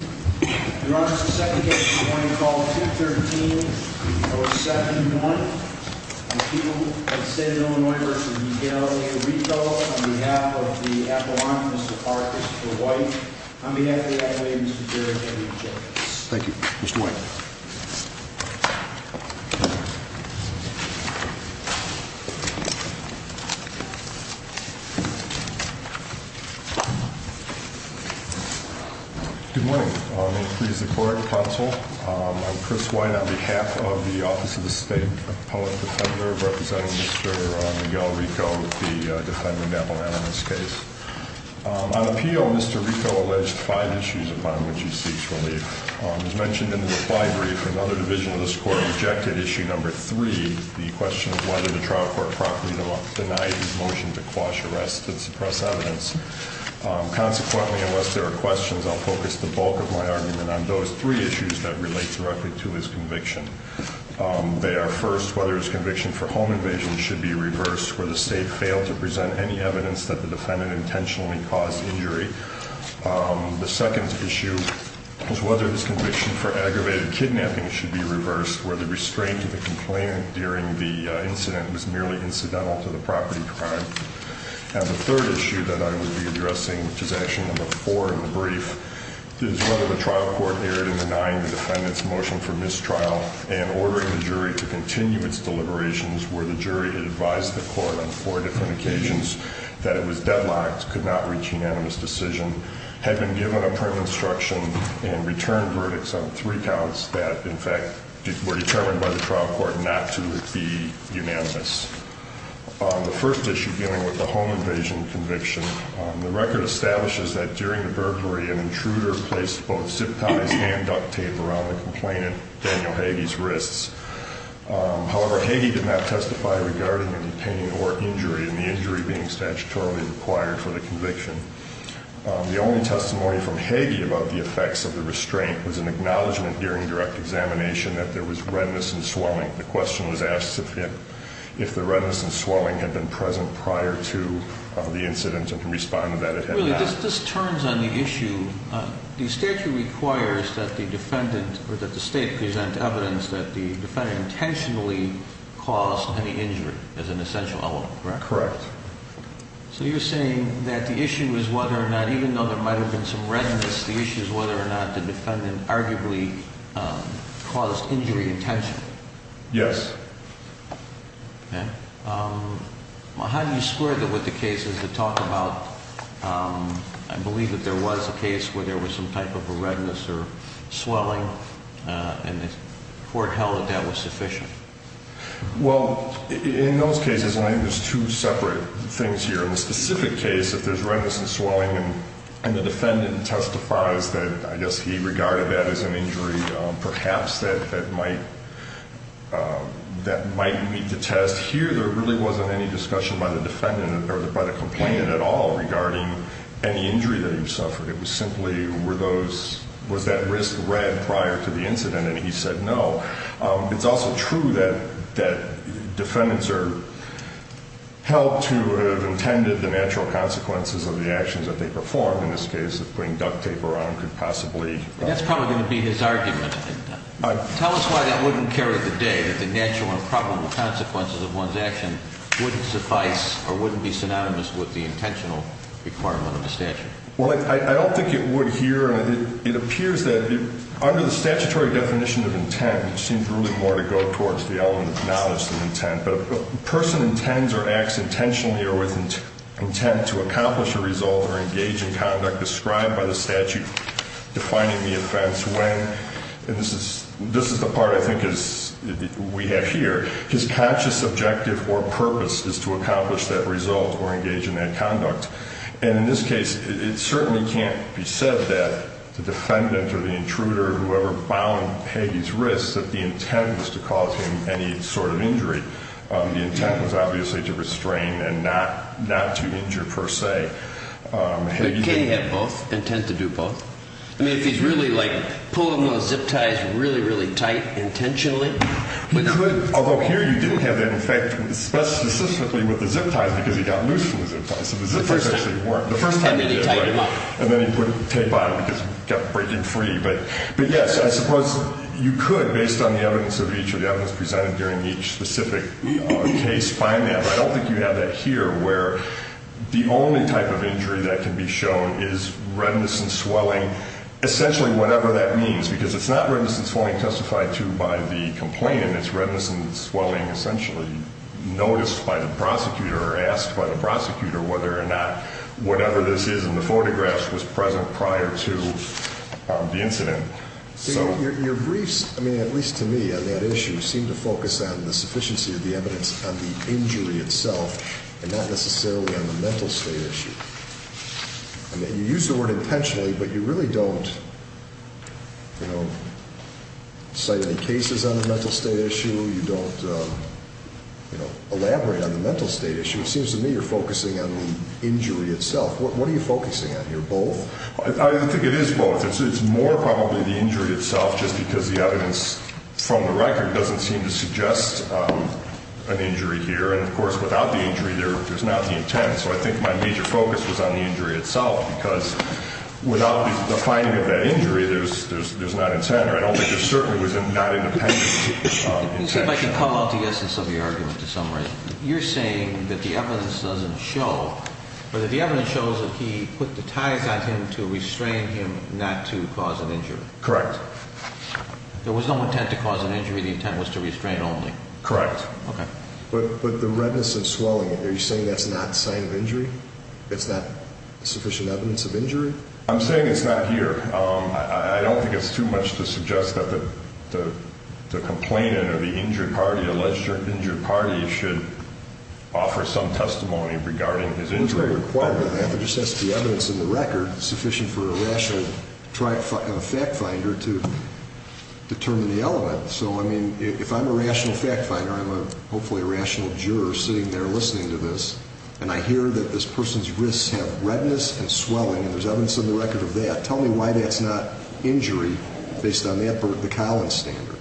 Your Honor, as a second case, I want to call 213-071 on behalf of the Appellant, Mr. Parkers for White. On behalf of the Appellant, Mr. Jarrett, I reject this. Thank you. Mr. White. Good morning. May it please the Court, Counsel. I'm Chris White on behalf of the Office of the State Appellant Defender, representing Mr. Miguel Rico, the Defendant Appellant in this case. On appeal, Mr. Rico alleged five issues upon which he seeks relief. As mentioned in the reply brief, another division of this Court rejected issue number three, the question of whether the trial court properly denied his motion to quash arrests and suppress evidence. Consequently, unless there are questions, I'll focus the bulk of my argument on those three issues that relate directly to his conviction. They are, first, whether his conviction for home invasion should be reversed, where the State failed to present any evidence that the Defendant intentionally caused injury. The second issue is whether his conviction for aggravated kidnapping should be reversed, where the restraint of the complainant during the incident was merely incidental to the property crime. And the third issue that I will be addressing, which is action number four in the brief, is whether the trial court erred in denying the Defendant's motion for mistrial and ordering the jury to continue its deliberations, where the jury advised the Court on four different occasions that it was deadlocked, could not reach unanimous decision, had been given a print instruction, and returned verdicts on three counts that, in fact, were determined by the trial court not to be unanimous. The first issue dealing with the home invasion conviction, the record establishes that during the burglary, an intruder placed both zip ties and duct tape around the complainant, Daniel Hagee's wrists. However, Hagee did not testify regarding a detainee or injury, and the injury being statutorily required for the conviction. The only testimony from Hagee about the effects of the restraint was an acknowledgment during direct examination that there was redness and swelling. The question was asked if the redness and swelling had been present prior to the incident, and can respond to that it had not. Really, this turns on the issue. The statute requires that the State present evidence that the Defendant intentionally caused any injury as an essential element, correct? Correct. So you're saying that the issue is whether or not, even though there might have been some redness, the issue is whether or not the Defendant arguably caused injury intentionally? Yes. Okay. Well, how do you square that with the cases that talk about, I believe that there was a case where there was some type of a redness or swelling, and the Court held that that was sufficient? Well, in those cases, and I think there's two separate things here, in the specific case, if there's redness and swelling and the Defendant testifies that, I guess, he regarded that as an injury perhaps that might meet the test. Here, there really wasn't any discussion by the Defendant or by the complainant at all regarding any injury that he suffered. It was simply, were those, was that risk read prior to the incident, and he said no. It's also true that Defendants are held to have intended the natural consequences of the actions that they performed. In this case, putting duct tape around could possibly. That's probably going to be his argument. Tell us why that wouldn't carry the day, that the natural and probable consequences of one's action wouldn't suffice or wouldn't be synonymous with the intentional requirement of the statute. Well, I don't think it would here. It appears that under the statutory definition of intent, which seems really more to go towards the element of knowledge than intent, but a person intends or acts intentionally or with intent to accomplish a result or engage in conduct described by the statute defining the offense when, and this is the part I think we have here, his conscious objective or purpose is to accomplish that result or engage in that conduct. And in this case, it certainly can't be said that the Defendant or the intruder, whoever bound Hagee's wrists, that the intent was to cause him any sort of injury. The intent was obviously to restrain and not, not to injure per se. But Hagee didn't have both, intent to do both. I mean, if he's really like pulling those zip ties really, really tight intentionally, he could, although here you didn't have that effect specifically with the zip ties because he got loose from the zip ties. And then he put tape on it because he kept breaking free. But yes, I suppose you could, based on the evidence of each of the evidence presented during each specific case, find that. I don't know whether or not whatever this is in the photographs was present prior to the incident. Your briefs, I mean, at least to me on that issue, seem to focus on the sufficiency of the evidence on the injury itself and not necessarily on the mental state issue. I mean, you use the word intentionally, but you really don't, you know, cite any cases on the mental state issue. You don't, you know, elaborate on the mental state issue. It seems to me you're focusing on the injury itself. What are you focusing on here, both? I think it is both. It's more probably the injury itself just because the evidence from the record doesn't seem to suggest an injury here. And, of course, without the injury, there's not the intent. So I think my major focus was on the injury itself because without the finding of that injury, there's not intent. I don't think there certainly was not independent intent. Let me see if I can call out the essence of your argument to some extent. You're saying that the evidence doesn't show, or that the evidence shows that he put the ties on him to restrain him not to cause an injury. Correct. There was no intent to cause an injury. The intent was to restrain only. Correct. Okay. But the redness and swelling, are you saying that's not a sign of injury? It's not sufficient evidence of injury? I'm saying it's not here. I don't think it's too much to suggest that the complainant or the injured party, alleged injured party, should offer some testimony regarding his injury. It's not required to do that. It just has to be evidence in the record sufficient for a rational fact finder to determine the element. So, I mean, if I'm a rational fact finder, I'm hopefully a rational juror sitting there listening to this, and I hear that this person's wrists have redness and swelling, and there's evidence in the record of that, tell me why that's not injury based on the Collins standard.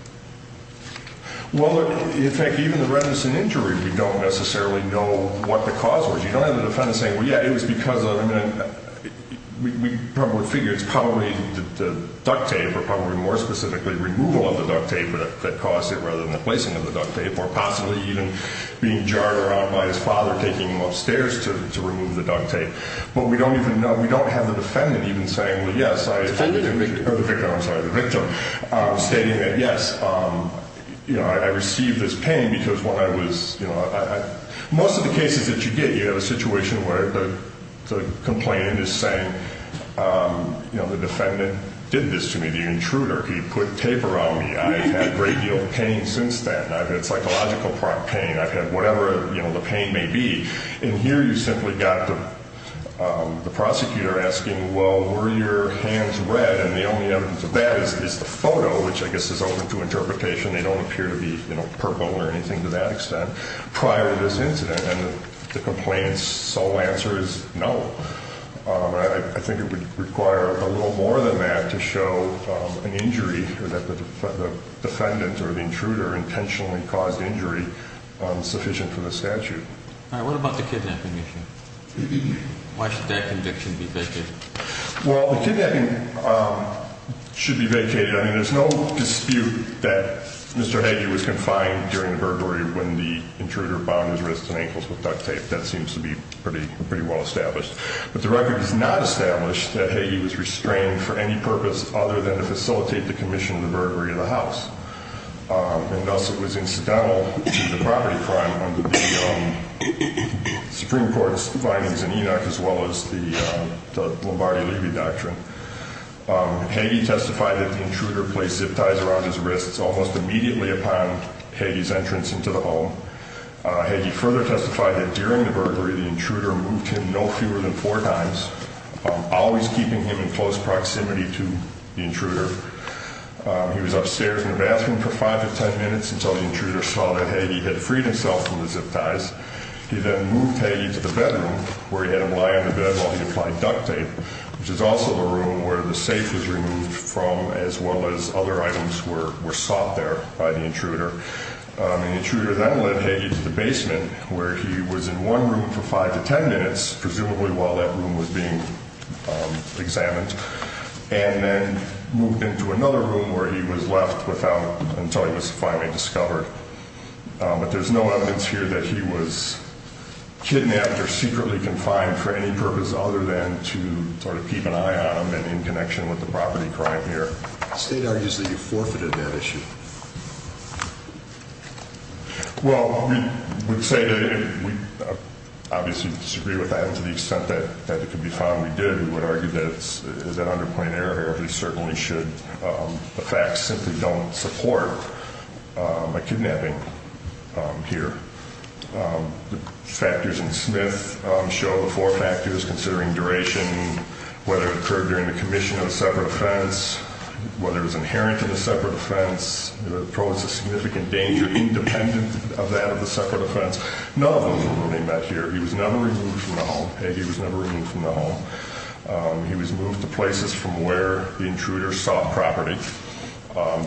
Well, in fact, even the redness and injury, we don't necessarily know what the cause was. You don't have the defendant saying, well, yeah, it was because of, I mean, we probably figure it's probably the duct tape, or probably more specifically, removal of the duct tape that caused it rather than the placing of the duct tape, or possibly even being jarred around by his father taking him upstairs to remove the duct tape. But we don't even know, we don't have the defendant even saying, well, yes, I, or the victim, I'm sorry, the victim stating that, yes, you know, I received this pain because when I was, you know, most of the cases that you get, you have a situation where the complainant is saying, you know, the defendant did this to me, the intruder. He put tape around me. I've had a great deal of pain since then. I've had psychological pain. I've had whatever, you know, the pain may be. And here you simply got the prosecutor asking, well, were your hands red? And the only evidence of that is the photo, which I guess is open to interpretation. They don't appear to be, you know, purple or anything to that extent prior to this incident. And the complaint's sole answer is no. I think it would require a little more than that to show an injury or that the defendant or the intruder intentionally caused injury sufficient for the statute. All right. What about the kidnapping issue? Why should that conviction be vacated? Well, the kidnapping should be vacated. I mean, there's no dispute that Mr. Hagee was confined during the burglary when the intruder bound his wrists and ankles with duct tape. That seems to be pretty well established. But the record does not establish that Hagee was restrained for any purpose other than to facilitate the commission of the burglary of the house. And thus it was incidental to the property crime under the Supreme Court's findings in Enoch as well as the Lombardi-Levy Doctrine. Hagee testified that the intruder placed zip ties around his wrists almost immediately upon Hagee's entrance into the home. Hagee further testified that during the burglary, the intruder moved him no fewer than four times, always keeping him in close proximity to the intruder. He was upstairs in the bathroom for five to ten minutes until the intruder saw that Hagee had freed himself from the zip ties. He then moved Hagee to the bedroom where he had him lie on the bed while he applied duct tape, which is also the room where the safe was removed from as well as other items were sought there by the intruder. The intruder then led Hagee to the basement where he was in one room for five to ten minutes, presumably while that room was being examined, and then moved into another room where he was left without until he was finally discovered. But there's no evidence here that he was kidnapped or secretly confined for any purpose other than to sort of keep an eye on him and in connection with the property crime here. The state argues that you forfeited that issue. Well, we would say that we obviously disagree with that to the extent that it could be found we did. We would argue that it's an underplayed error. He certainly should. The facts simply don't support a kidnapping here. The factors in Smith show the four factors, considering duration, whether it occurred during the commission of a separate offense, whether it was inherent to the separate offense. It posed a significant danger independent of that of the separate offense. None of them were really met here. He was never removed from the home. Hagee was never removed from the home. He was moved to places from where the intruder sought property.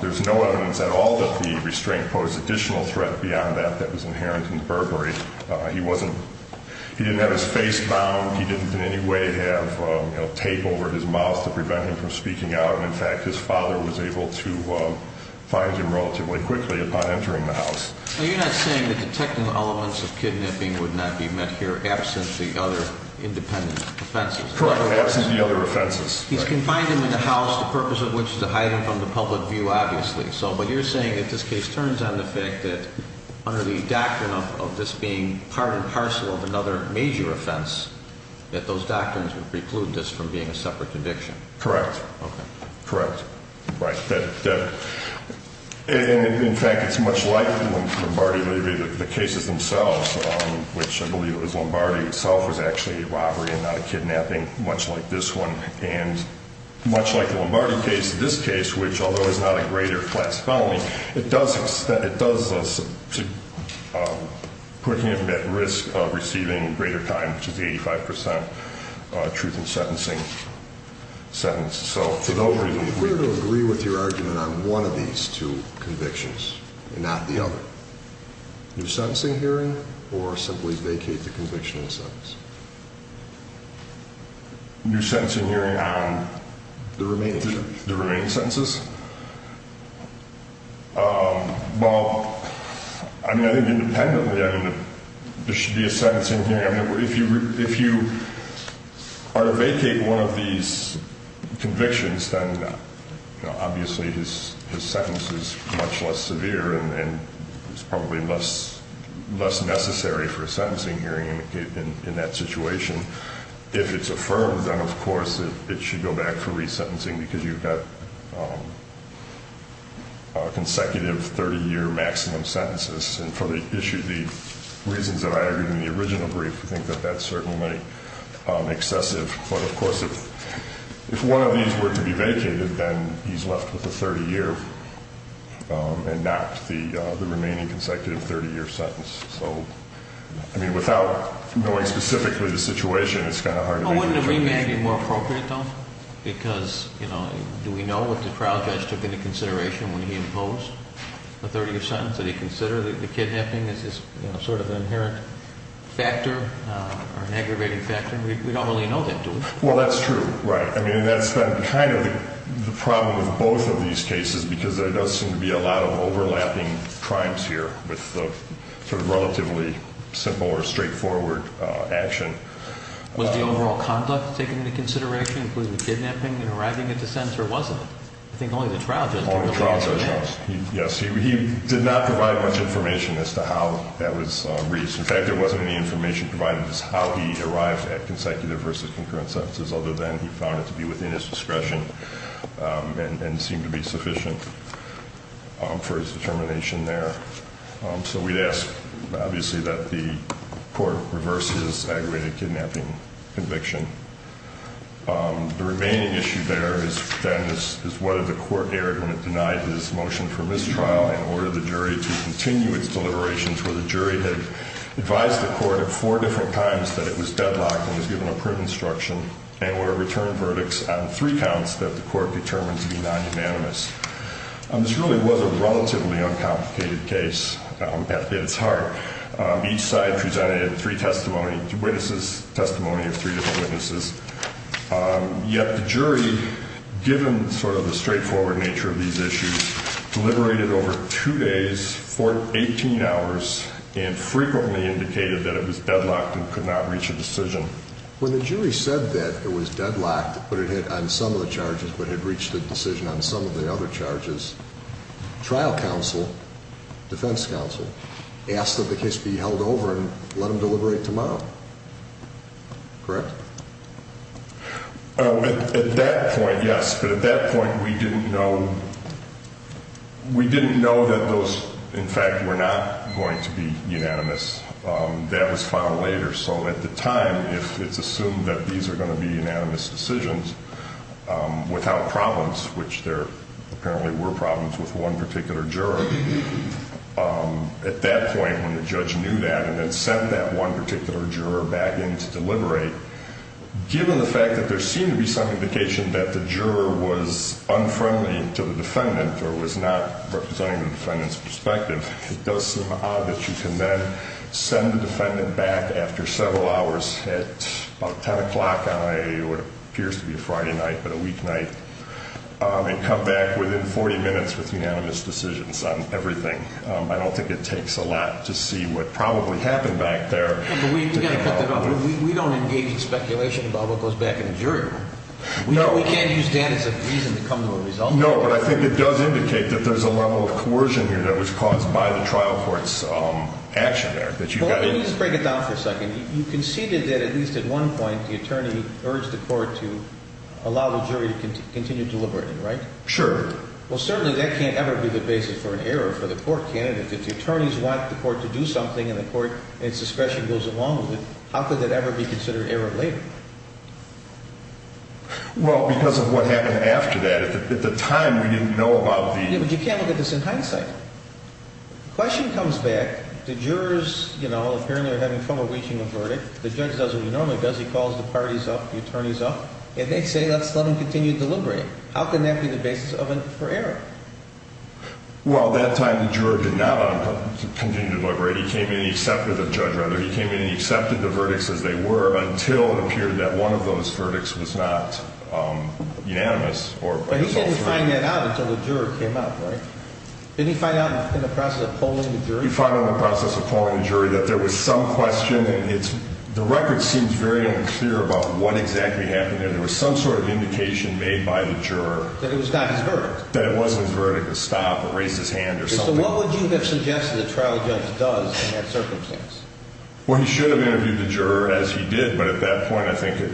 There's no evidence at all that the restraint posed additional threat beyond that that was inherent in Burberry. He wasn't – he didn't have his face bound. He didn't in any way have tape over his mouth to prevent him from speaking out. And, in fact, his father was able to find him relatively quickly upon entering the house. Now, you're not saying that the technical elements of kidnapping would not be met here absent the other independent offenses? Correct. Absent the other offenses. He's confined him in the house, the purpose of which is to hide him from the public view, obviously. But you're saying that this case turns on the fact that under the doctrine of this being part and parcel of another major offense, that those doctrines would preclude this from being a separate conviction. Correct. Okay. And, again, Lombardi, the cases themselves, which I believe it was Lombardi himself was actually a robbery and not a kidnapping, much like this one. And much like the Lombardi case, this case, which, although is not a greater flat penalty, it does put him at risk of receiving greater time, which is 85 percent truth in sentencing. We're going to agree with your argument on one of these two convictions and not the other. New sentencing hearing or simply vacate the conviction and sentence? New sentencing hearing on? The remaining sentences. Well, I mean, I think independently, I mean, there should be a sentencing hearing. I think that's certainly excessive. But, of course, if one of these were to be vacated, then he's left with a 30-year and not the remaining consecutive 30-year sentence. So, I mean, without knowing specifically the situation, it's kind of hard to make a determination. Would it be more appropriate, though? Because, you know, do we know what the trial judge took into consideration when he imposed the 30-year sentence? Did he consider the kidnapping as his sort of inherent factor or an aggravating factor? We don't really know that, do we? Well, that's true. Right. I mean, that's kind of the problem with both of these cases because there does seem to be a lot of overlapping crimes here with the sort of relatively simple or straightforward action. Was the overall conduct taken into consideration, including the kidnapping, in arriving at the sentence, or wasn't it? I think only the trial judge. Only the trial judge, yes. He did not provide much information as to how that was reached. In fact, there wasn't any information provided as to how he arrived at consecutive versus concurrent sentences, other than he found it to be within his discretion and seemed to be sufficient for his determination there. So we'd ask, obviously, that the court reverse his aggravated kidnapping conviction. The remaining issue there is then is whether the court erred when it denied his motion for mistrial and ordered the jury to continue its deliberations where the jury had advised the court at four different times that it was deadlocked and was given a print instruction and were to return verdicts on three counts that the court determined to be non-unanimous. This really was a relatively uncomplicated case. It's hard. Each side presented three testimony, witnesses' testimony of three different witnesses. Yet the jury, given sort of the straightforward nature of these issues, deliberated over two days, 18 hours, and frequently indicated that it was deadlocked and could not reach a decision. When the jury said that it was deadlocked on some of the charges but had reached a decision on some of the other charges, trial counsel, defense counsel, asked that the case be held over and let them deliberate tomorrow. Correct? At that point, yes. But at that point, we didn't know that those, in fact, were not going to be unanimous. That was found later. So at the time, it's assumed that these are going to be unanimous decisions without problems, which there apparently were problems with one particular juror. At that point, when the judge knew that and then sent that one particular juror back in to deliberate, given the fact that there seemed to be some indication that the juror was unfriendly to the defendant or was not representing the defendant's perspective, it does seem odd that you can then send the defendant back after several hours at about 10 o'clock on a, what appears to be a Friday night but a weeknight, and come back within 40 minutes with unanimous decisions. I don't think it takes a lot to see what probably happened back there. We don't engage in speculation about what goes back in the jury room. We can't use that as a reason to come to a result. No, but I think it does indicate that there's a level of coercion here that was caused by the trial court's action there. Let me just break it down for a second. You conceded that at least at one point the attorney urged the court to allow the jury to continue deliberating, right? Sure. Well, certainly that can't ever be the basis for an error for the court candidate. If the attorneys want the court to do something and the court and its discretion goes along with it, how could that ever be considered error later? Well, because of what happened after that. At the time, we didn't know about the... Yeah, but you can't look at this in hindsight. The question comes back. The jurors, you know, apparently are having trouble reaching a verdict. The judge does what he normally does. He calls the parties up, the attorneys up, and they say, let's let them continue deliberating. How can that be the basis for error? Well, at that time, the juror did not allow them to continue to deliberate. He came in and he accepted the verdicts as they were until it appeared that one of those verdicts was not unanimous. But he didn't find that out until the juror came up, right? Didn't he find out in the process of polling the jury? He found out in the process of polling the jury that there was some question. The record seems very unclear about what exactly happened there. There was some sort of indication made by the juror. That it was not his verdict. That it wasn't his verdict, a stop, a raise his hand, or something. So what would you have suggested the trial judge does in that circumstance? Well, he should have interviewed the juror as he did, but at that point, I think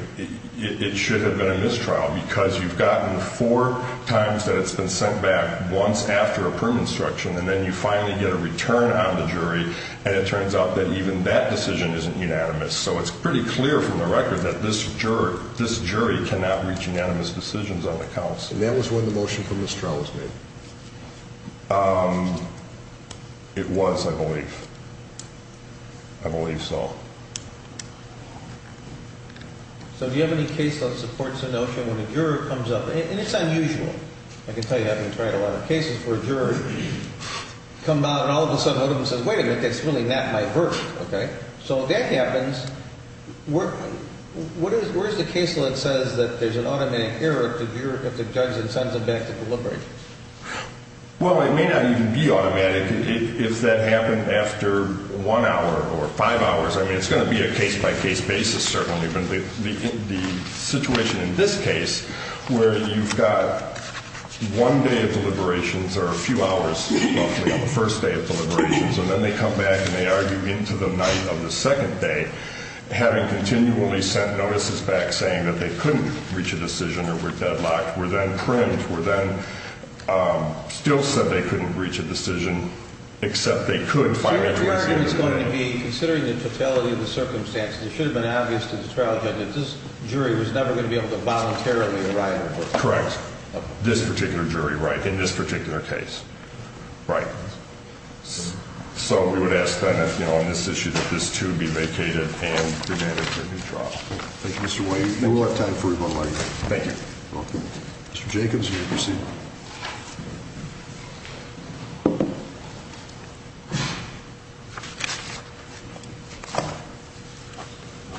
it should have been a mistrial. Because you've gotten four times that it's been sent back, once after a prison instruction, and then you finally get a return on the jury. And it turns out that even that decision isn't unanimous. So it's pretty clear from the record that this jury cannot reach unanimous decisions on the counts. And that was when the motion for mistrial was made? It was, I believe. I believe so. So do you have any case that supports the notion when a juror comes up, and it's unusual. I can tell you, I've been trying a lot of cases where a juror comes out and all of a sudden one of them says, wait a minute, that's really not my verdict, okay? So if that happens, where's the case that says that there's an automatic error if the juror comes to judge and sends them back to deliberate? Well, it may not even be automatic if that happened after one hour or five hours. I mean, it's going to be a case-by-case basis, certainly. But the situation in this case where you've got one day of deliberations or a few hours, roughly, on the first day of deliberations, and then they come back and they argue into the night of the second day, having continually sent notices back saying that they couldn't reach a decision or were deadlocked, were then primed, were then still said they couldn't reach a decision, except they could finally reach a decision. So the criterion is going to be, considering the totality of the circumstances, it should have been obvious to the trial judge that this jury was never going to be able to voluntarily arrive at a verdict. Correct. This particular jury, right, in this particular case. Right. So we would ask, then, on this issue, that this, too, be vacated and demanded that it be dropped. Thank you, Mr. White. We'll have time for one more question. Thank you. Mr. Jacobs, you may proceed.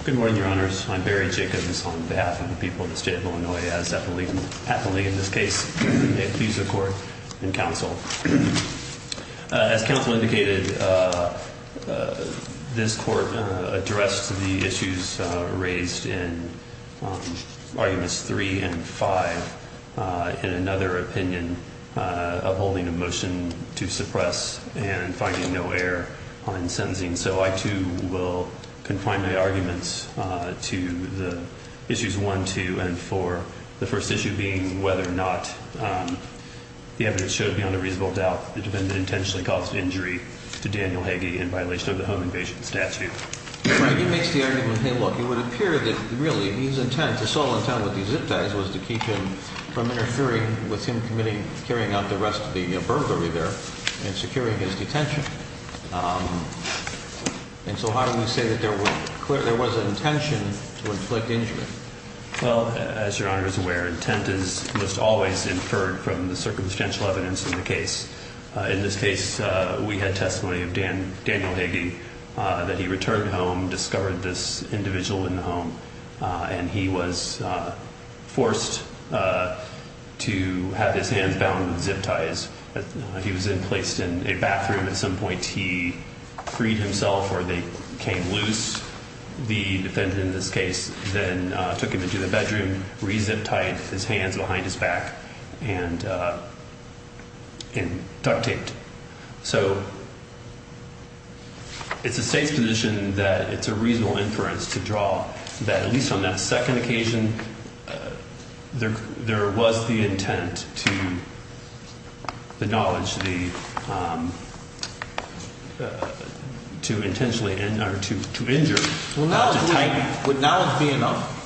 Good morning, Your Honors. I'm Barry Jacobs on behalf of the people of the state of Illinois. As counsel indicated, this court addressed the issues raised in arguments three and five in another opinion of holding a motion to suppress and finding no error in sentencing. So I, too, will confine my arguments to the issues one, two, and four, the first issue being whether or not the evidence shows beyond a reasonable doubt that the defendant intentionally caused injury to Daniel Hagee in violation of the home invasion statute. Hagee makes the argument, hey, look, it would appear that, really, his intent, his sole intent with these zip ties was to keep him from interfering with him committing, carrying out the rest of the burglary there and securing his detention. And so how do we say that there was an intention to inflict injury? Well, as Your Honor is aware, intent is most always inferred from the circumstantial evidence in the case. In this case, we had testimony of Daniel Hagee, that he returned home, discovered this individual in the home, and he was forced to have his hands bound with zip ties. He was placed in a bathroom at some point. He freed himself, or they came loose, the defendant in this case, then took him into the bedroom, re-zipped tied his hands behind his back, and duct taped. So it's a safe position that it's a reasonable inference to draw that, at least on that second occasion, there was the intent to the knowledge to intentionally, or to injure, not to tighten. Well, now, would knowledge be enough?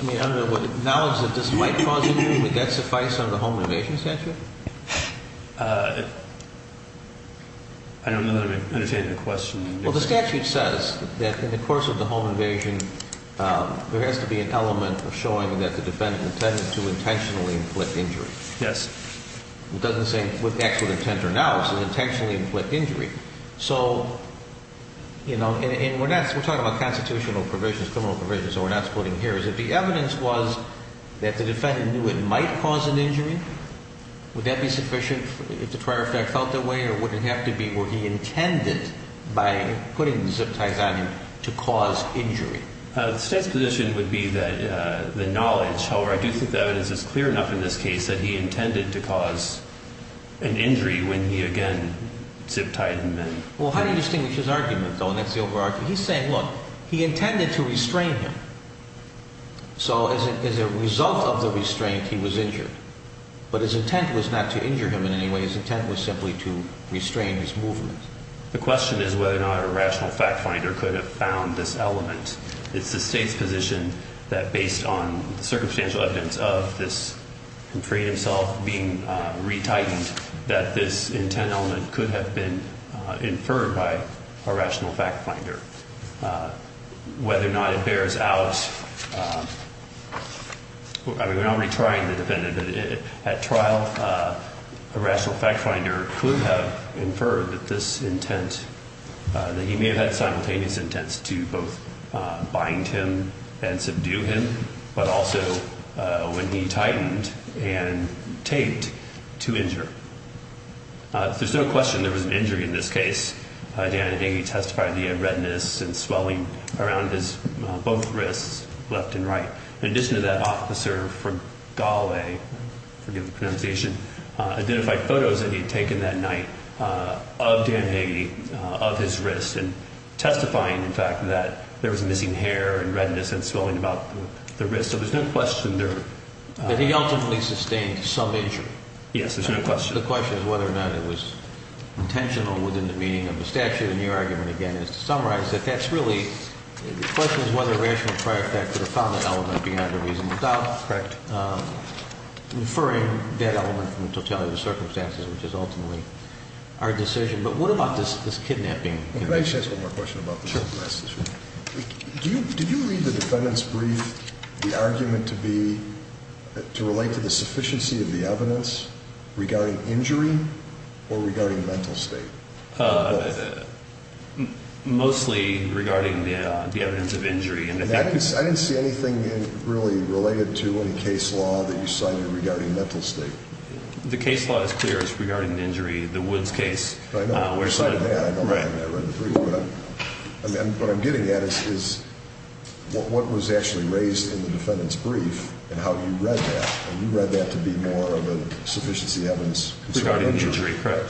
I mean, I don't know, would knowledge that this might cause injury, would that suffice on the home invasion statute? I don't know that I'm understanding the question. Well, the statute says that in the course of the home invasion, there has to be an element of showing that the defendant intended to intentionally inflict injury. Yes. It doesn't say what acts with intent are now. It says intentionally inflict injury. So, you know, and we're not, we're talking about constitutional provisions, criminal provisions, so we're not splitting here. Is it the evidence was that the defendant knew it might cause an injury? Would that be sufficient if the prior effect felt that way, or would it have to be, were he intended, by putting zip ties on him, to cause injury? The state's position would be that the knowledge, however, I do think the evidence is clear enough in this case that he intended to cause an injury when he, again, zip-tied him. Well, how do you distinguish his argument, though, and that's the over-argument? He's saying, look, he intended to restrain him, so as a result of the restraint, he was injured. But his intent was not to injure him in any way, his intent was simply to restrain his movement. The question is whether or not a rational fact finder could have found this element. It's the state's position that based on the circumstantial evidence of this infrequent assault being retightened, that this intent element could have been inferred by a rational fact finder. Whether or not it bears out, I mean, we're not really trying to defend it, but at trial, a rational fact finder could have inferred that this intent, that he may have had simultaneous intents to both bind him and subdue him, but also when he tightened and taped to injure. There's no question there was an injury in this case. Dan Hagee testified that he had redness and swelling around his both wrists, left and right. In addition to that, Officer Fregale, forgive the pronunciation, identified photos that he had taken that night of Dan Hagee, of his wrist, and testifying, in fact, that there was missing hair and redness and swelling about the wrist, so there's no question there... But he ultimately sustained some injury. Yes, there's no question. The question is whether or not it was intentional within the meaning of the statute. And your argument, again, is to summarize that that's really... The question is whether a rational prior fact could have found that element beyond a reasonable doubt. Correct. Inferring that element from the totality of the circumstances, which is ultimately our decision. But what about this kidnapping? Can I just ask one more question about this? Sure. Did you read the defendant's brief, the argument to be, to relate to the sufficiency of the evidence regarding injury or regarding mental state? Mostly regarding the evidence of injury. I didn't see anything really related to any case law that you cited regarding mental state. The case law is clear. It's regarding the injury, the Woods case. I know. I read the brief. What I'm getting at is what was actually raised in the defendant's brief and how you read that. You read that to be more of a sufficiency evidence. Regarding the injury. Correct.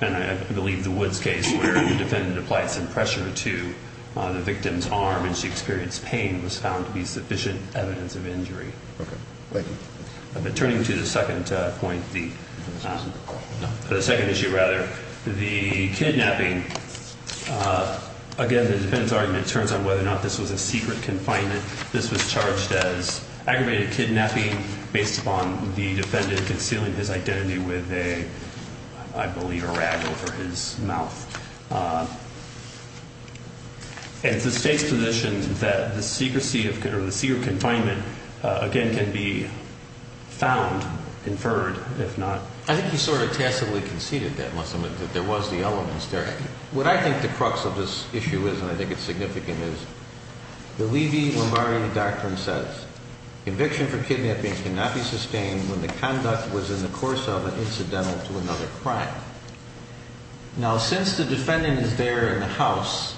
And I believe the Woods case where the defendant applied some pressure to the victim's arm and she experienced pain was found to be sufficient evidence of injury. Okay. Thank you. Turning to the second point, the second issue rather, the kidnapping, again, the defendant's argument turns on whether or not this was a secret confinement. This was charged as aggravated kidnapping based upon the defendant concealing his identity with a, I believe, a rag over his mouth. And it's the state's position that the secrecy of, or the secret confinement, again, can be found, conferred, if not. I think he sort of tacitly conceded that, unless there was the elements there. What I think the crux of this issue is, and I think it's significant, is the Levy-Lombardi Doctrine says conviction for kidnapping cannot be sustained when the conduct was in the course of an incidental to another crime. Now, since the defendant is there in the house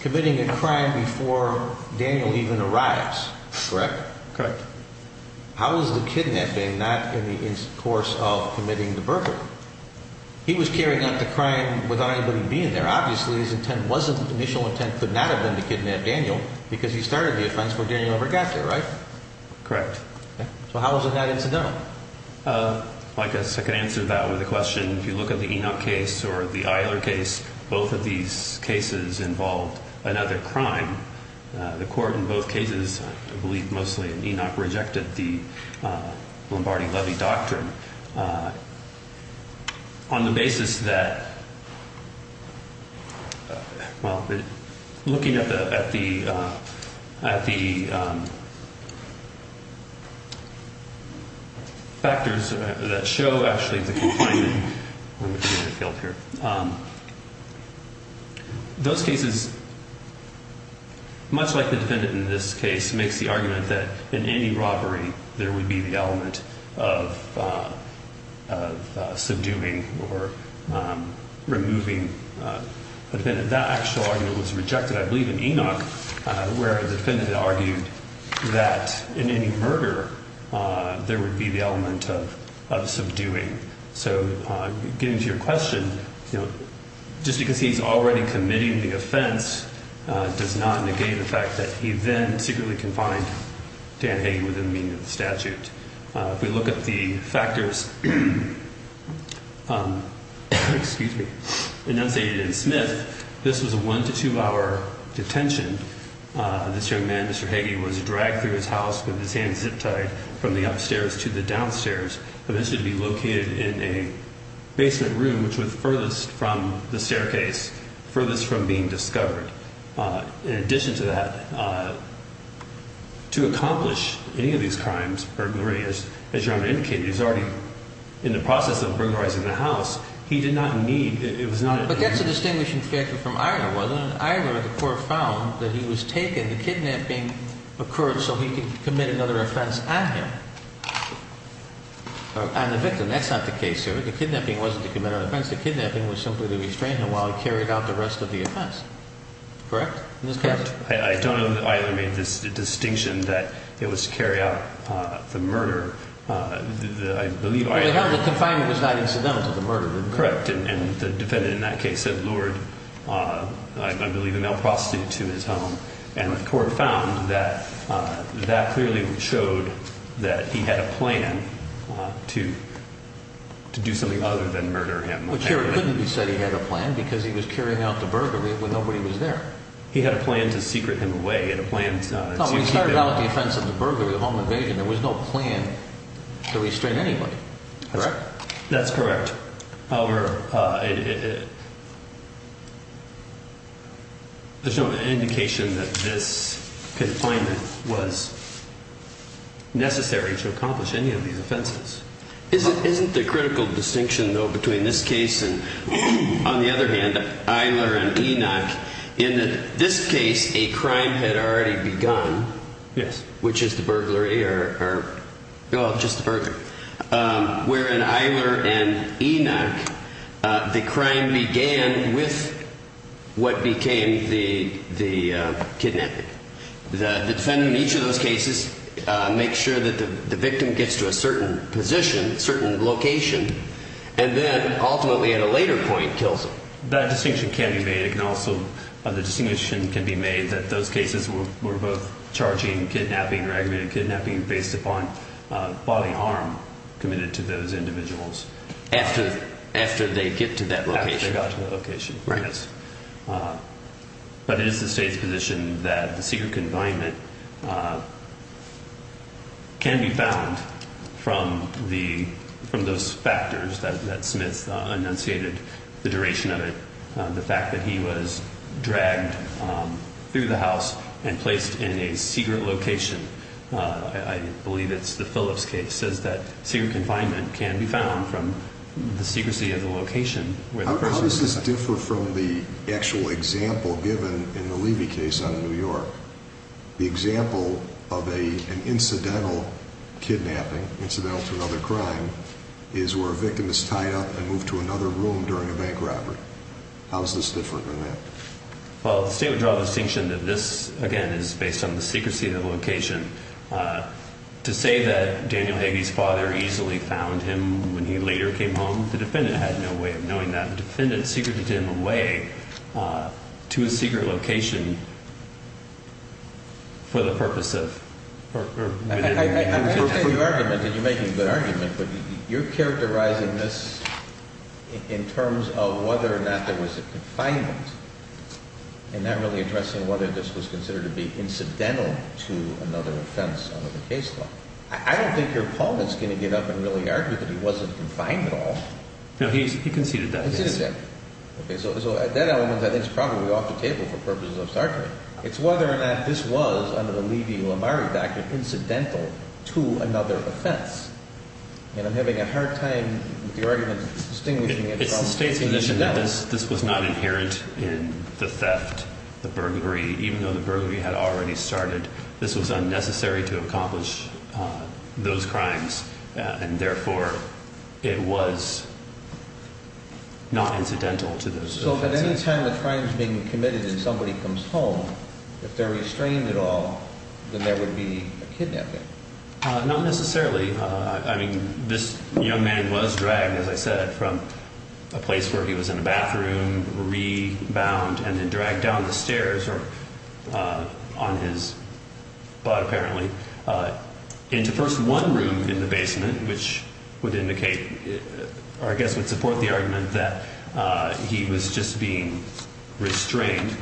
committing a crime before Daniel even arrives, correct? Correct. How is the kidnapping not in the course of committing the burglary? He was carrying out the crime without anybody being there. Obviously, his intent wasn't, initial intent could not have been to kidnap Daniel because he started the offense before Daniel ever got there, right? Correct. So how was it not incidental? I guess I could answer that with a question. If you look at the Enoch case or the Eiler case, both of these cases involved another crime. The court in both cases, I believe mostly in Enoch, rejected the Lombardi-Levy Doctrine on the basis that, well, looking at the factors that show, actually, the confinement. Those cases, much like the defendant in this case, makes the argument that in any robbery, there would be the element of subduing or removing the defendant. That actual argument was rejected, I believe, in Enoch, where the defendant argued that in any murder, there would be the element of subduing. So getting to your question, just because he's already committing the offense does not negate the fact that he then secretly confined Dan Hagey within the meaning of the statute. If we look at the factors enunciated in Smith, this was a one- to two-hour detention. This young man, Mr. Hagey, was dragged through his house with his hands zip-tied from the upstairs to the downstairs. He was to be located in a basement room, which was furthest from the staircase, furthest from being discovered. In addition to that, to accomplish any of these crimes, burglary, as Your Honor indicated, he was already in the process of burglarizing the house. He did not need – it was not – But that's a distinguishing factor from Eiler, wasn't it? In Eiler, the court found that he was taken. The kidnapping occurred so he could commit another offense on him, on the victim. That's not the case here. The kidnapping wasn't to commit an offense. The kidnapping was simply to restrain him while he carried out the rest of the offense. Correct? Correct. I don't know that Eiler made this distinction that it was to carry out the murder. Well, the confinement was not incidental to the murder, was it? Correct. And the defendant in that case had lured, I believe, a male prostitute to his home. And the court found that that clearly showed that he had a plan to do something other than murder him. But here it couldn't be said he had a plan because he was carrying out the burglary when nobody was there. He had a plan to secret him away. He had a plan to – No, he started out the offense of the burglary, the home invasion. There was no plan to restrain anybody. Correct? That's correct. However, there's no indication that this confinement was necessary to accomplish any of these offenses. Isn't the critical distinction, though, between this case and, on the other hand, Eiler and Enoch, in this case a crime had already begun. Yes. Which is the burglary or – No, just the burglary. Where in Eiler and Enoch the crime began with what became the kidnapping. The defendant in each of those cases makes sure that the victim gets to a certain position, a certain location, and then ultimately at a later point kills him. That distinction can be made. The distinction can be made that those cases were both charging, kidnapping, or aggravated kidnapping based upon bodily harm committed to those individuals. After they get to that location. After they got to that location, yes. But it is the State's position that the secret confinement can be found from those factors that Smith enunciated, the duration of it, the fact that he was dragged through the house and placed in a secret location. I believe it's the Phillips case says that secret confinement can be found from the secrecy of the location where the person was found. How does this differ from the actual example given in the Levy case out of New York? The example of an incidental kidnapping, incidental to another crime, is where a victim is tied up and moved to another room during a bank robbery. How is this different than that? Well, the State would draw the distinction that this, again, is based on the secrecy of the location. To say that Daniel Levy's father easily found him when he later came home, the defendant had no way of knowing that. The defendant secreted him away to a secret location for the purpose of. You're making a good argument, but you're characterizing this in terms of whether or not there was a confinement and not really addressing whether this was considered to be incidental to another offense under the case law. I don't think your opponent is going to get up and really argue that he wasn't confined at all. No, he conceded that. Okay, so that element, I think, is probably off the table for purposes of startling. It's whether or not this was, under the Levy-Lamari factor, incidental to another offense. And I'm having a hard time with your argument distinguishing it from incidental. It's the State's position that this was not inherent in the theft, the burglary. So if at any time the crime is being committed and somebody comes home, if they're restrained at all, then there would be a kidnapping? Not necessarily. I mean, this young man was dragged, as I said, from a place where he was in a bathroom, rebound, and then dragged down the stairs or on his butt, apparently, into first one room in the basement, which would indicate or I guess would support the argument that he was just being restrained.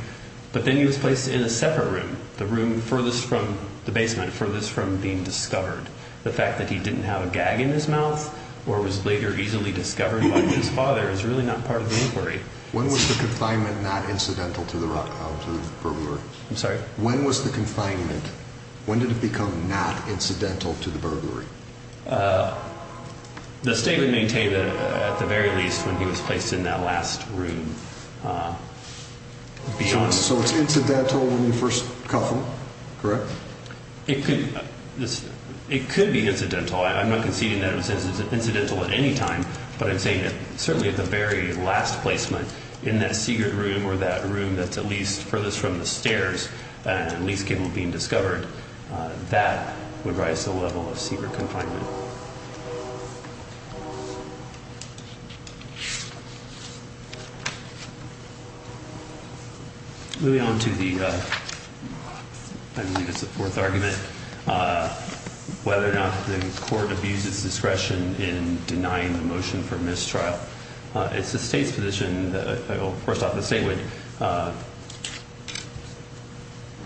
But then he was placed in a separate room, the room furthest from the basement, furthest from being discovered. The fact that he didn't have a gag in his mouth or was later easily discovered by his father is really not part of the inquiry. When was the confinement not incidental to the burglary? I'm sorry? When was the confinement, when did it become not incidental to the burglary? The State would maintain that at the very least when he was placed in that last room. So it's incidental when you first cuff him, correct? It could be incidental. I'm not conceding that it was incidental at any time. But I'm saying that certainly at the very last placement in that secret room or that room that's at least furthest from the stairs and least capable of being discovered, that would rise to the level of secret confinement. Moving on to the, I believe it's the fourth argument, whether or not the court abuses discretion in denying the motion for mistrial. It's the State's position, of course not the State would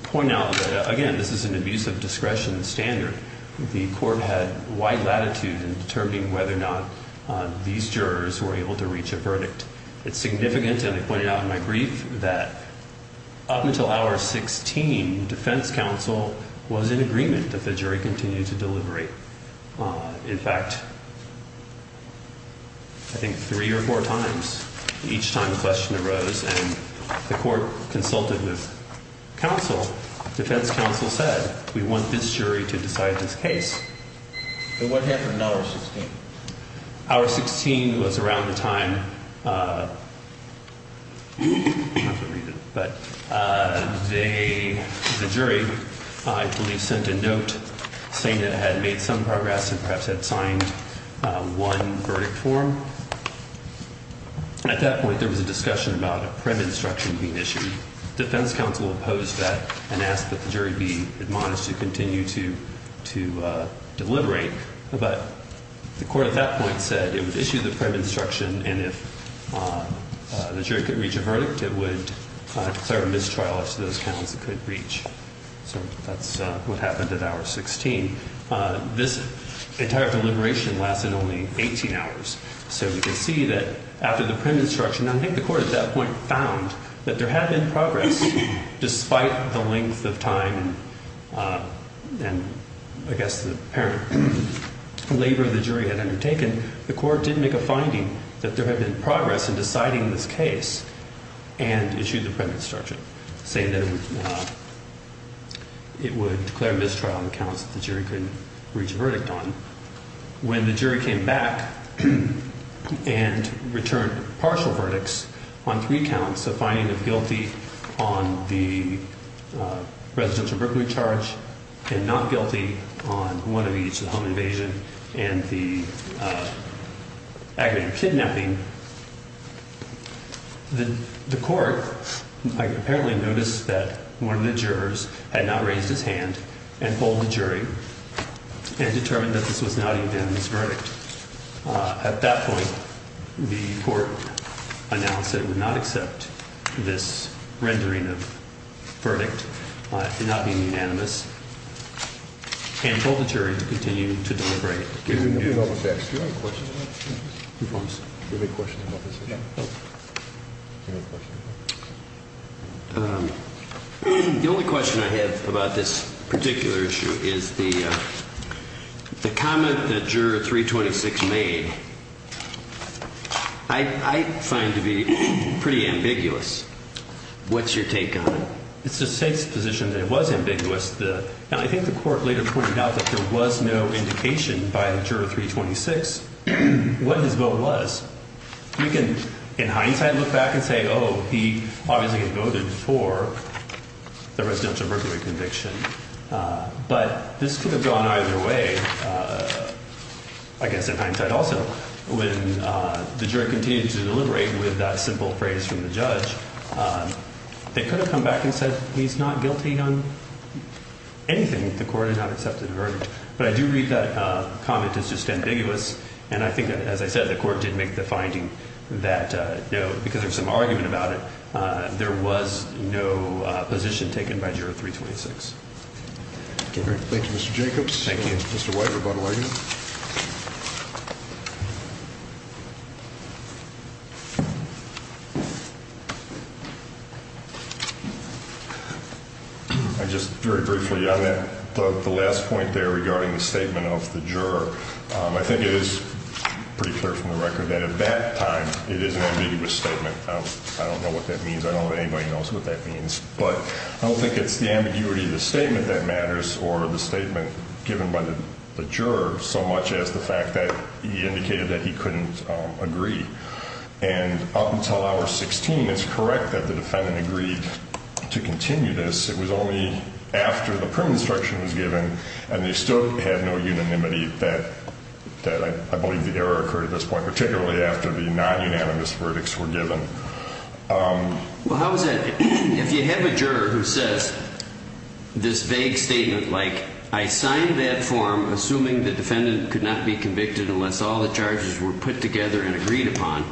point out that, again, this is an abuse of discretion standard. The court had wide latitude in determining whether or not these jurors were able to reach a verdict. It's significant, and I pointed out in my brief, that up until hour 16, defense counsel was in agreement that the jury continue to deliberate. In fact, I think three or four times each time a question arose and the court consulted with counsel, defense counsel said, we want this jury to decide this case. And what happened at hour 16? Hour 16 was around the time, I'm not going to read it, but the jury, I believe, sent a note saying that it had made some progress and perhaps had signed one verdict form. At that point, there was a discussion about a premed instruction being issued. The defense counsel opposed that and asked that the jury be admonished to continue to deliberate. But the court at that point said it would issue the premed instruction, and if the jury could reach a verdict, it would declare a mistrial after those counts it could reach. So that's what happened at hour 16. This entire deliberation lasted only 18 hours. So we can see that after the premed instruction, I think the court at that point found that there had been progress, despite the length of time and, I guess, the apparent labor the jury had undertaken. The court did make a finding that there had been progress in deciding this case and issued the premed instruction, saying that it would declare mistrial on the counts that the jury couldn't reach a verdict on. When the jury came back and returned partial verdicts on three counts, the finding of guilty on the residential Brooklyn charge and not guilty on one of each, the home invasion and the aggravated kidnapping, the court apparently noticed that one of the jurors had not raised his hand and pulled the jury and determined that this was not a unanimous verdict. At that point, the court announced it would not accept this rendering of verdict for not being unanimous and told the jury to continue to deliberate. The only question I have about this particular issue is the comment that juror 326 made, I find to be pretty ambiguous. What's your take on it? It's the state's position that it was ambiguous. Now, I think the court later pointed out that there was no indication by juror 326 what his vote was. We can, in hindsight, look back and say, oh, he obviously had voted for the residential Brooklyn conviction. But this could have gone either way, I guess in hindsight also. When the jury continued to deliberate with that simple phrase from the judge, they could have come back and said he's not guilty on anything. The court had not accepted the verdict. But I do read that comment as just ambiguous. And I think, as I said, the court did make the finding that, you know, because there's some argument about it, there was no position taken by juror 326. Thank you, Mr. Jacobs. Thank you. Mr. White, rebuttal, are you? Just very briefly on that, the last point there regarding the statement of the juror. I think it is pretty clear from the record that at that time it is an ambiguous statement. I don't know what that means. I don't know if anybody knows what that means. But I don't think it's the ambiguity of the statement that matters or the statement given by the juror so much as the fact that he indicated that he couldn't agree. And up until Hour 16, it's correct that the defendant agreed to continue this. It was only after the prim instruction was given and they still had no unanimity that I believe the error occurred at this point, particularly after the non-unanimous verdicts were given. Well, how is that? If you have a juror who says this vague statement like, I signed that form assuming the defendant could not be convicted unless all the charges were put together and agreed upon,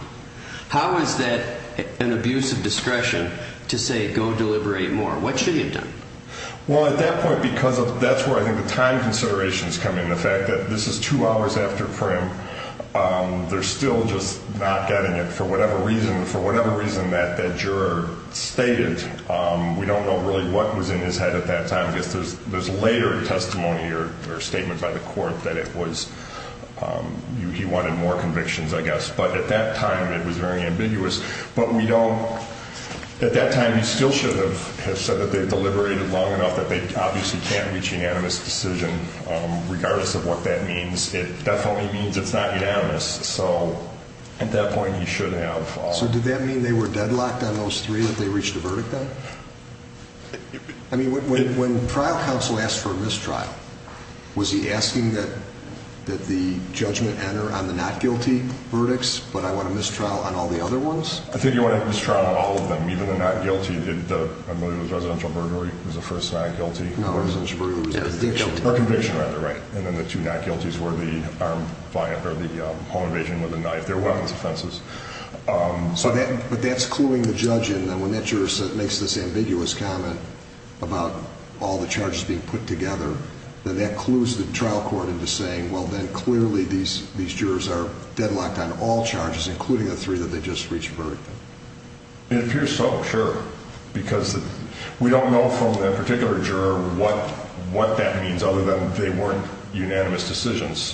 how is that an abuse of discretion to say go deliberate more? What should he have done? Well, at that point, because that's where I think the time considerations come in, the fact that this is two hours after prim, they're still just not getting it for whatever reason, for whatever reason that that juror stated. We don't know really what was in his head at that time. I guess there's later testimony or statement by the court that it was he wanted more convictions, I guess. But at that time, it was very ambiguous. But at that time, he still should have said that they've deliberated long enough that they obviously can't reach unanimous decision. Regardless of what that means, it definitely means it's not unanimous. So at that point, he should have. So did that mean they were deadlocked on those three that they reached a verdict on? I mean, when trial counsel asked for a mistrial, was he asking that the judgment enter on the not guilty verdicts, but I want a mistrial on all the other ones? I think he wanted a mistrial on all of them, even the not guilty. I believe it was residential burglary was the first not guilty. No, residential burglary was conviction. Or conviction, rather, right. And then the two not guilties were the home invasion with a knife. They were weapons offenses. But that's cluing the judge in. When that juror makes this ambiguous comment about all the charges being put together, then that clues the trial court into saying, well, then clearly these jurors are deadlocked on all charges, including the three that they just reached a verdict on. It appears so, sure. Because we don't know from that particular juror what that means, other than they weren't unanimous decisions.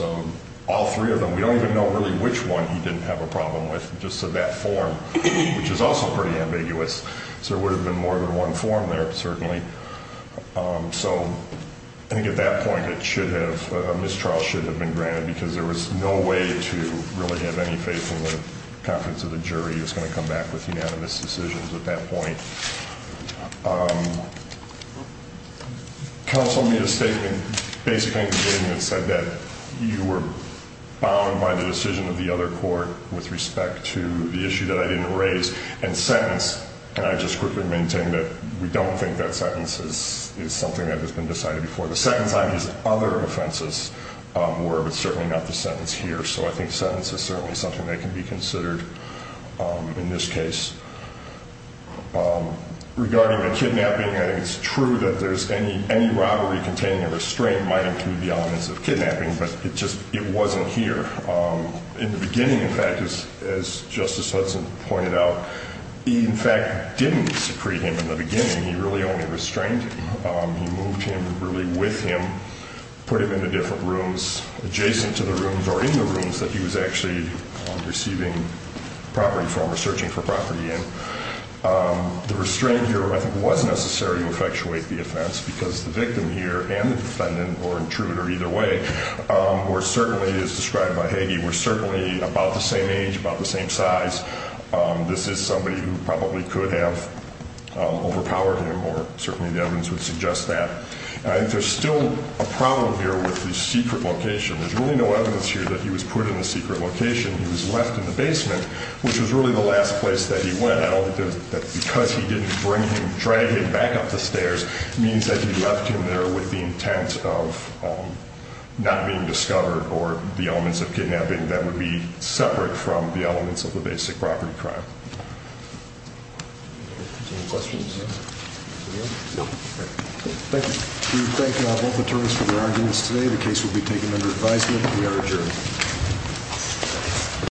All three of them. We don't even know really which one he didn't have a problem with, just that form, which is also pretty ambiguous. So there would have been more than one form there, certainly. So I think at that point, a mistrial should have been granted, because there was no way to really have any faith in the confidence of the jury who was going to come back with unanimous decisions at that point. Counsel made a statement, basically a statement that said that you were bound by the decision of the other court with respect to the issue that I didn't raise and sentenced. And I just quickly maintain that we don't think that sentence is something that has been decided before. The second time, these other offenses were, but certainly not the sentence here. So I think sentence is certainly something that can be considered in this case. Regarding the kidnapping, I think it's true that any robbery containing a restraint might include the elements of kidnapping, but it just wasn't here. In the beginning, in fact, as Justice Hudson pointed out, he, in fact, didn't secrete him in the beginning. He really only restrained him. He moved him really with him, put him into different rooms, adjacent to the rooms or in the rooms that he was actually receiving property from or searching for property in. The restraint here, I think, was necessary to effectuate the offense because the victim here and the defendant or intruder either way were certainly, as described by Hagee, were certainly about the same age, about the same size. This is somebody who probably could have overpowered him, or certainly the evidence would suggest that. I think there's still a problem here with the secret location. There's really no evidence here that he was put in a secret location. He was left in the basement, which was really the last place that he went. I don't think that because he didn't bring him, drag him back up the stairs, means that he left him there with the intent of not being discovered or the elements of kidnapping that would be separate from the elements of the basic property crime. Thank you. We thank both attorneys for their arguments today. The case will be taken under advisement, and we are adjourned. Thank you.